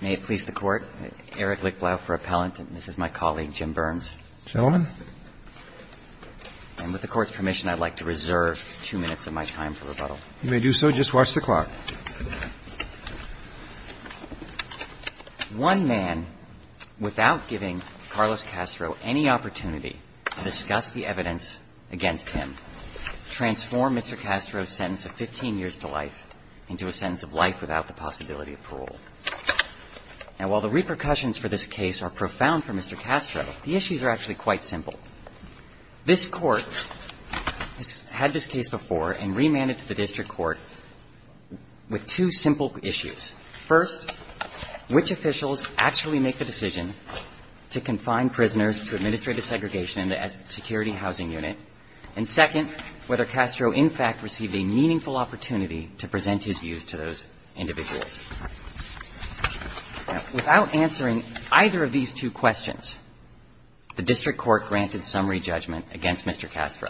May it please the Court, Eric Lichtblau for appellant, and this is my colleague Jim Burns. Gentlemen. And with the Court's permission, I'd like to reserve two minutes of my time for rebuttal. You may do so. Just watch the clock. One man, without giving Carlos Castro any opportunity to discuss the evidence against him, transformed Mr. Castro's sentence of 15 years to life into a sentence of life without the possibility of parole. Now, while the repercussions for this case are profound for Mr. Castro, the issues are actually quite simple. This Court has had this case before and remanded to the district court with two simple issues. First, which officials actually make the decision to confine prisoners to administrative segregation in the Security Housing Unit? And second, whether Castro in fact received a meaningful opportunity to present his views to those individuals? Now, without answering either of these two questions, the district court granted summary judgment against Mr. Castro.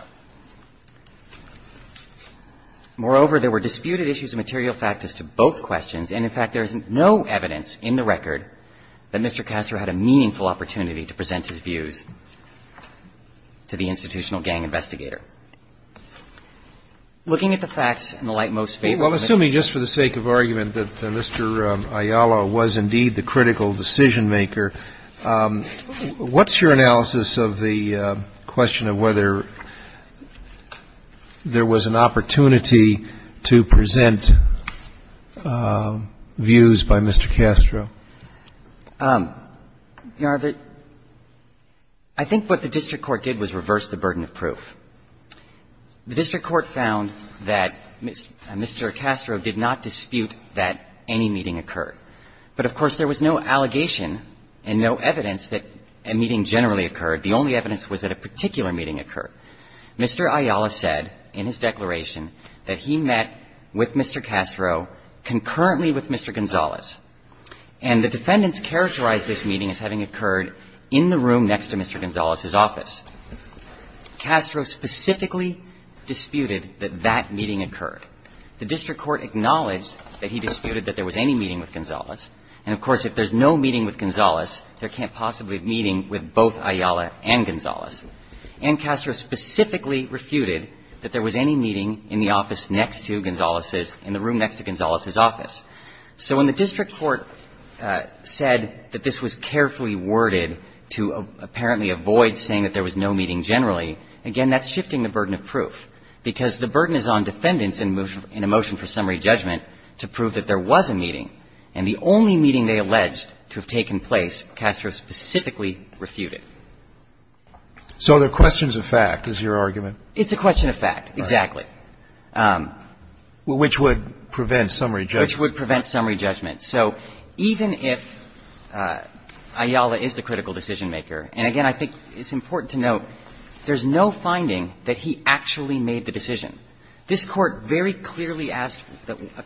Moreover, there were disputed issues of material fact as to both questions. And, in fact, there is no evidence in the record that Mr. Castro had a meaningful opportunity to present his views to the institutional gang investigator. Looking at the facts in the lightmost favor of Mr. Castro. Well, assuming just for the sake of argument that Mr. Ayala was indeed the critical decision-maker, what's your analysis of the question of whether there was an opportunity to present views by Mr. Castro? I think what the district court did was reverse the burden of proof. The district court found that Mr. Castro did not dispute that any meeting occurred. But, of course, there was no allegation and no evidence that a meeting generally occurred. The only evidence was that a particular meeting occurred. Mr. Ayala said in his declaration that he met with Mr. Castro concurrently with Mr. Gonzalez. And the defendants characterized this meeting as having occurred in the room next to Mr. Gonzalez's office. Castro specifically disputed that that meeting occurred. The district court acknowledged that he disputed that there was any meeting with Gonzalez. And, of course, if there's no meeting with Gonzalez, there can't possibly be a meeting with both Ayala and Gonzalez. And Castro specifically refuted that there was any meeting in the office next to Gonzalez's in the room next to Gonzalez's office. So when the district court said that this was carefully worded to apparently avoid saying that there was no meeting generally, again, that's shifting the burden of proof, because the burden is on defendants in a motion for summary judgment to prove that there was a meeting. And the only meeting they alleged to have taken place Castro specifically refuted. So the question's a fact, is your argument? It's a question of fact, exactly. Which would prevent summary judgment. Which would prevent summary judgment. So even if Ayala is the critical decision-maker, and, again, I think it's important to note there's no finding that he actually made the decision. This Court very clearly asked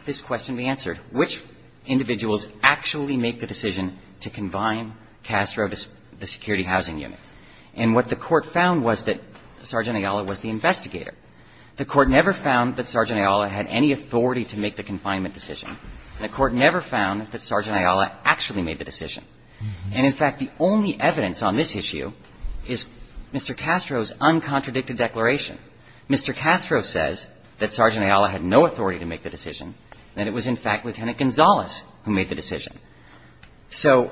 this question to be answered, which individuals actually make the decision to confine Castro to the security housing unit. And what the Court found was that Sergeant Ayala was the investigator. The Court never found that Sergeant Ayala had any authority to make the confinement decision. And the Court never found that Sergeant Ayala actually made the decision. And, in fact, the only evidence on this issue is Mr. Castro's uncontradicted declaration. Mr. Castro says that Sergeant Ayala had no authority to make the decision, that it was, in fact, Lieutenant Gonzalez who made the decision. So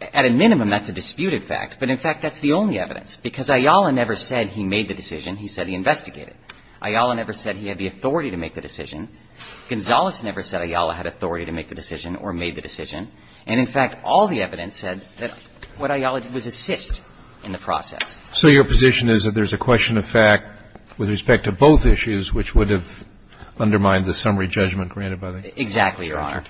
at a minimum, that's a disputed fact. But, in fact, that's the only evidence. Because Ayala never said he made the decision. He said he investigated. Ayala never said he had the authority to make the decision. Gonzalez never said Ayala had authority to make the decision or made the decision. And, in fact, all the evidence said that what Ayala did was assist in the process. So your position is that there's a question of fact with respect to both issues which would have undermined the summary judgment granted by the Court? Exactly, Your Honor.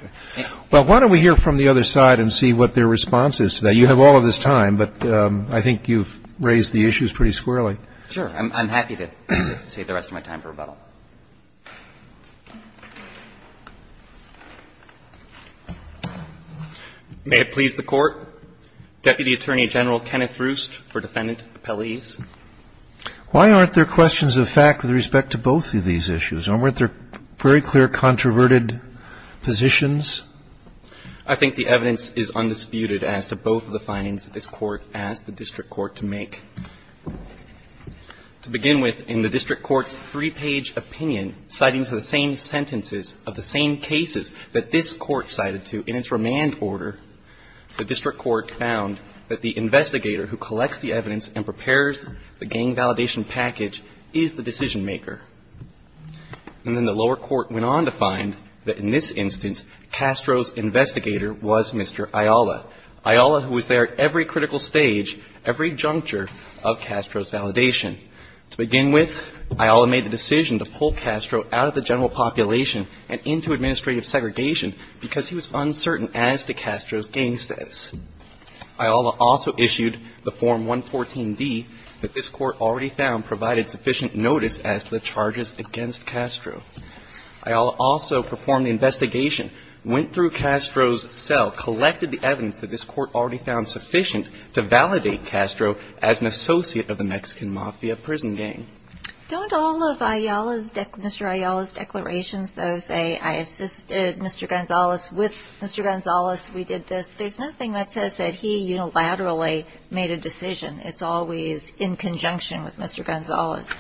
Well, why don't we hear from the other side and see what their response is to that? You have all of this time, but I think you've raised the issues pretty squarely. Sure. I'm happy to save the rest of my time for rebuttal. May it please the Court. Deputy Attorney General Kenneth Roost for Defendant Appellees. Why aren't there questions of fact with respect to both of these issues? Why weren't there very clear, controverted positions? I think the evidence is undisputed as to both of the findings that this Court asked the district court to make. To begin with, in the district court's three-page opinion, citing the same sentences of the same cases that this court cited to in its remand order, the district court found that the investigator who collects the evidence and prepares the gang validation package is the decision-maker. And then the lower court went on to find that in this instance, Castro's investigator was Mr. Ayala, Ayala who was there at every critical stage, every juncture of Castro's validation. To begin with, Ayala made the decision to pull Castro out of the general population and into administrative segregation because he was uncertain as to Castro's gang status. Ayala also issued the Form 114D that this court already found provided sufficient notice as to the charges against Castro. Ayala also performed the investigation, went through Castro's cell, collected the evidence that this court already found sufficient to validate Castro as an associate of the Mexican Mafia prison gang. Don't all of Ayala's, Mr. Ayala's declarations, though, say I assisted Mr. Gonzalez with Mr. Gonzalez, we did this, there's nothing that says that he unilaterally made a decision. It's always in conjunction with Mr. Gonzalez.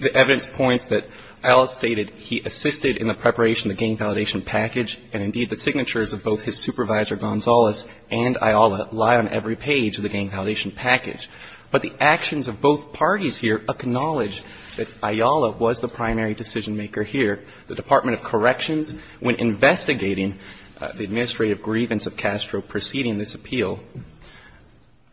The evidence points that Ayala stated he assisted in the preparation of the gang validation package, and indeed the signatures of both his supervisor, Gonzalez, and Ayala lie on every page of the gang validation package. But the actions of both parties here acknowledge that Ayala was the primary decision-maker The Department of Corrections, when investigating the administrative grievance of Castro preceding this appeal,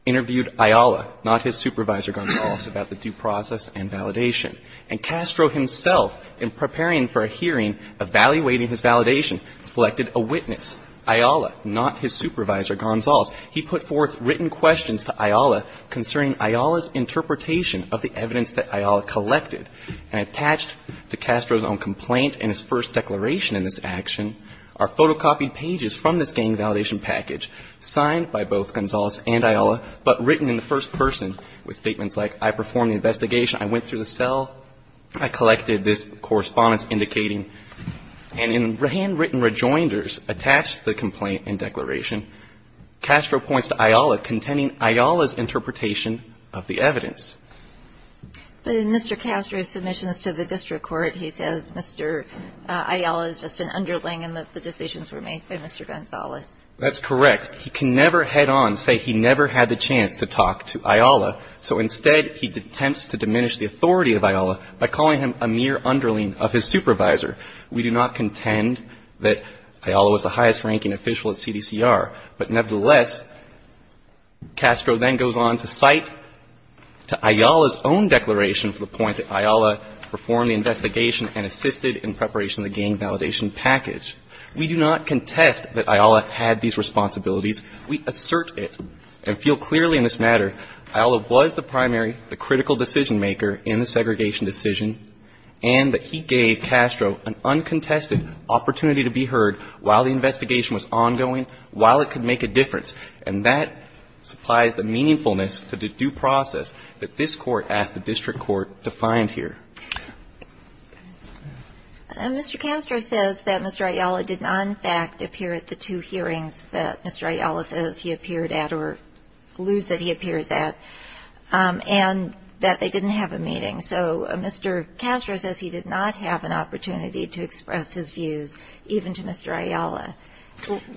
interviewed Ayala, not his supervisor, Gonzalez, about the due process and validation. And Castro himself, in preparing for a hearing, evaluating his validation, selected a witness, Ayala, not his supervisor, Gonzalez. He put forth written questions to Ayala concerning Ayala's interpretation of the evidence that Ayala collected. And attached to Castro's own complaint and his first declaration in this action are photocopied pages from this gang validation package, signed by both Gonzalez and Ayala, but written in the first person with statements like, I performed the investigation, I went through the cell, I collected this correspondence indicating, and in handwritten rejoinders attached to the complaint and declaration, Castro points to Ayala contending Ayala's interpretation of the evidence. But in Mr. Castro's submissions to the district court, he says Mr. Ayala is just an underling and that the decisions were made by Mr. Gonzalez. That's correct. He can never head on say he never had the chance to talk to Ayala. So instead, he attempts to diminish the authority of Ayala by calling him a mere underling of his supervisor. We do not contend that Ayala was the highest-ranking official at CDCR. But nevertheless, Castro then goes on to cite to Ayala's own declaration for the point that Ayala performed the investigation and assisted in preparation of the gang validation package. We do not contest that Ayala had these responsibilities. We assert it and feel clearly in this matter Ayala was the primary, the critical decision-maker in the segregation decision, and that he gave Castro an uncontested opportunity to be heard while the investigation was ongoing, while it could make a difference. And that supplies the meaningfulness to the due process that this Court asked the district court to find here. Mr. Castro says that Mr. Ayala did not, in fact, appear at the two hearings that Mr. Ayala says he appeared at or alludes that he appears at, and that they didn't have a meeting. So Mr. Castro says he did not have an opportunity to express his views, even to Mr. Ayala.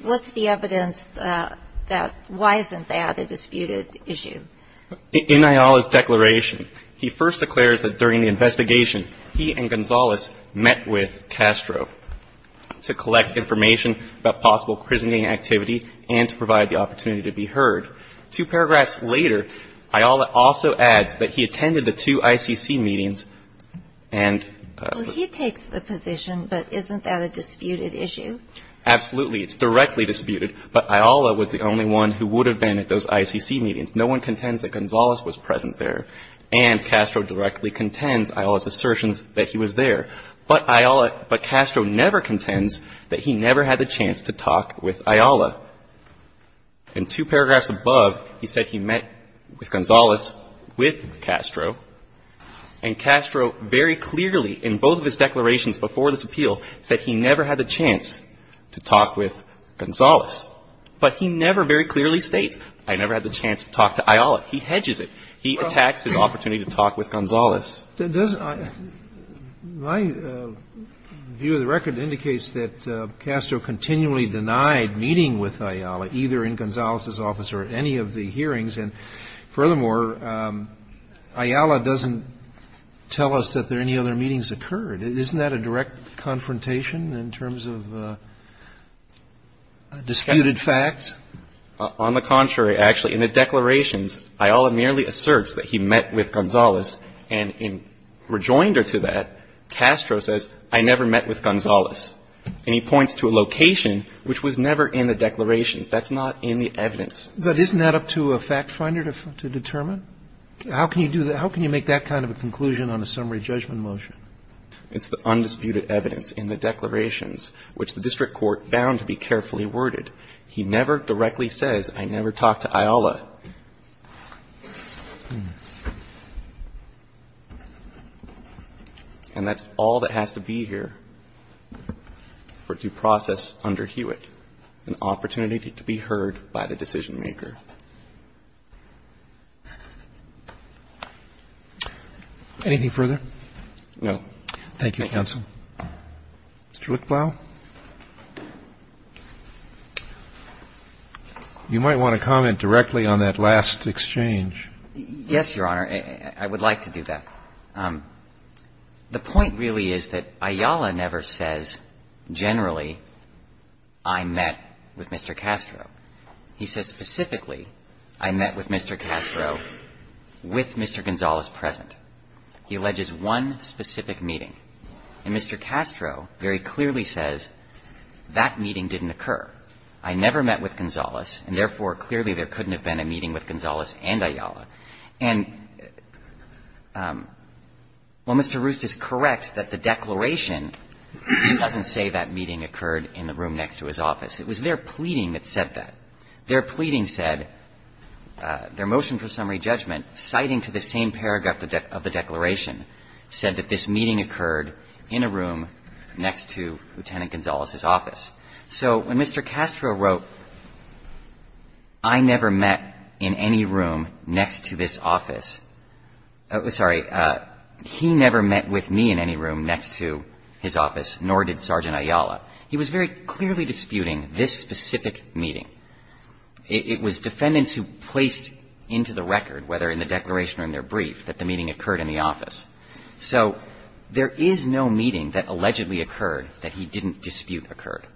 What's the evidence that why isn't that a disputed issue? In Ayala's declaration, he first declares that during the investigation, he and Gonzales met with Castro to collect information about possible prison gang activity and to provide the opportunity to be heard. Two paragraphs later, Ayala also adds that he attended the two ICC meetings and He takes the position, but isn't that a disputed issue? Absolutely. It's directly disputed. But Ayala was the only one who would have been at those ICC meetings. No one contends that Gonzales was present there, and Castro directly contends Ayala's assertions that he was there. But Ayala, but Castro never contends that he never had the chance to talk with Ayala. In two paragraphs above, he said he met with Gonzales with Castro. And Castro very clearly, in both of his declarations before this appeal, said he never had the chance to talk with Gonzales. But he never very clearly states, I never had the chance to talk to Ayala. He hedges it. He attacks his opportunity to talk with Gonzales. My view of the record indicates that Castro continually denied meeting with Ayala, either in Gonzales' office or at any of the hearings. And furthermore, Ayala doesn't tell us that there are any other meetings occurred. Isn't that a direct confrontation in terms of disputed facts? On the contrary, actually. In the declarations, Ayala merely asserts that he met with Gonzales. And in rejoinder to that, Castro says, I never met with Gonzales. And he points to a location which was never in the declarations. That's not in the evidence. But isn't that up to a fact finder to determine? How can you do that? How can you make that kind of a conclusion on a summary judgment motion? It's the undisputed evidence in the declarations, which the district court found to be carefully worded. He never directly says, I never talked to Ayala. And that's all that has to be here for due process under Hewitt, an opportunity to be heard by the decision maker. Anything further? No. Thank you, counsel. Mr. Lichtblau? You might want to comment directly on that last exchange. Yes, Your Honor. I would like to do that. The point really is that Ayala never says generally, I met with Mr. Castro. He says specifically, I met with Mr. Castro with Mr. Gonzales present. He alleges one specific meeting. And Mr. Castro very clearly says that meeting didn't occur. I never met with Gonzales, and therefore, clearly, there couldn't have been a meeting with Gonzales and Ayala. And while Mr. Roost is correct that the declaration doesn't say that meeting occurred in the room next to his office, it was their pleading that said that. Their pleading said, their motion for summary judgment, citing to the same paragraph of the declaration, said that this meeting occurred in a room next to Lieutenant Gonzales' office. So when Mr. Castro wrote, I never met in any room next to this office, sorry, he never met with me in any room next to his office, nor did Sergeant Ayala. He was very clearly disputing this specific meeting. It was defendants who placed into the record, whether in the declaration or in their brief, that the meeting occurred in the office. So there is no meeting that allegedly occurred that he didn't dispute occurred.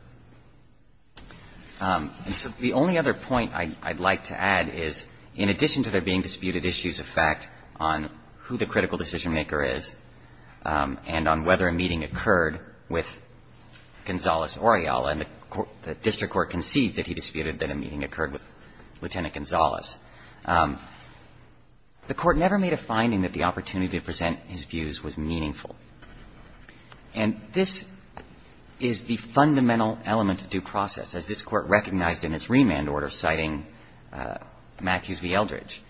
And so the only other point I'd like to add is, in addition to there being disputed issues of fact on who the critical decisionmaker is and on whether a meeting occurred with Gonzales or Ayala, and the district court conceived that he disputed that a meeting occurred with Lieutenant Gonzales. The Court never made a finding that the opportunity to present his views was meaningful. And this is the fundamental element of due process, as this Court recognized in its remand order citing Matthews v. Eldridge.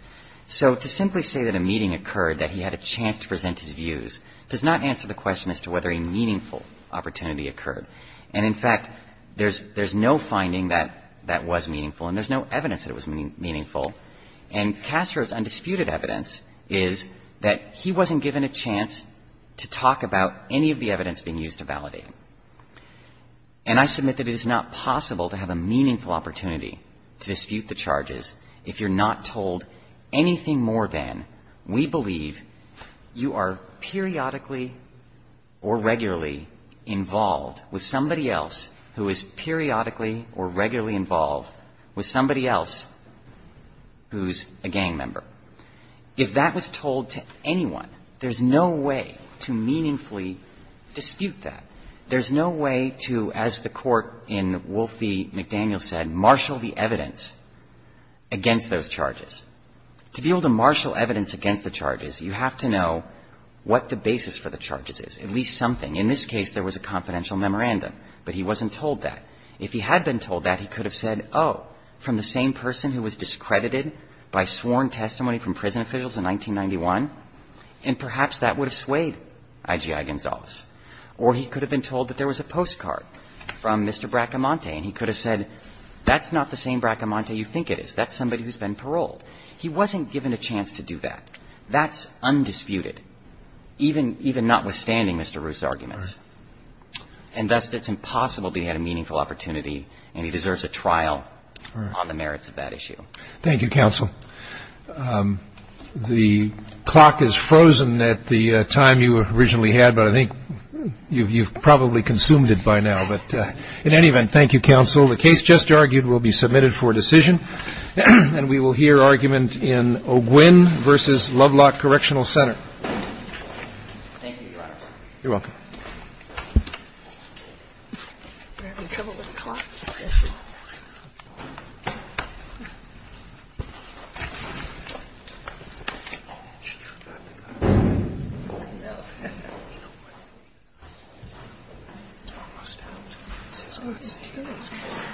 So to simply say that a meeting occurred that he had a chance to present his views does not answer the question as to whether a meaningful opportunity occurred. And, in fact, there's no finding that that was meaningful, and there's no evidence that it was meaningful. And Castro's undisputed evidence is that he wasn't given a chance to talk about any of the evidence being used to validate. And I submit that it is not possible to have a meaningful opportunity to dispute the charges if you're not told anything more than, we believe you are periodically or regularly involved with somebody else who is periodically or regularly involved with somebody else who's a gang member. If that was told to anyone, there's no way to meaningfully dispute that. There's no way to, as the Court in Wolf v. McDaniel said, marshal the evidence against those charges. To be able to marshal evidence against the charges, you have to know what the basis for the charges is, at least something. In this case, there was a confidential memorandum, but he wasn't told that. If he had been told that, he could have said, oh, from the same person who was discredited by sworn testimony from prison officials in 1991, and perhaps that would have swayed I.G.I. Gonzalez. Or he could have been told that there was a postcard from Mr. Bracamonte, and he could have said, that's not the same Bracamonte you think it is. That's somebody who's been paroled. He wasn't given a chance to do that. That's undisputed, even notwithstanding Mr. Roos's arguments. And thus, it's impossible to get a meaningful opportunity, and he deserves a trial on the merits of that issue. Thank you, counsel. The clock has frozen at the time you originally had, but I think you've probably consumed it by now. But in any event, thank you, counsel. The case just argued will be submitted for decision, and we will hear argument in Oguin v. Lovelock Correctional Center. Thank you, Your Honor. You're welcome. We're having trouble with the clock. Okay.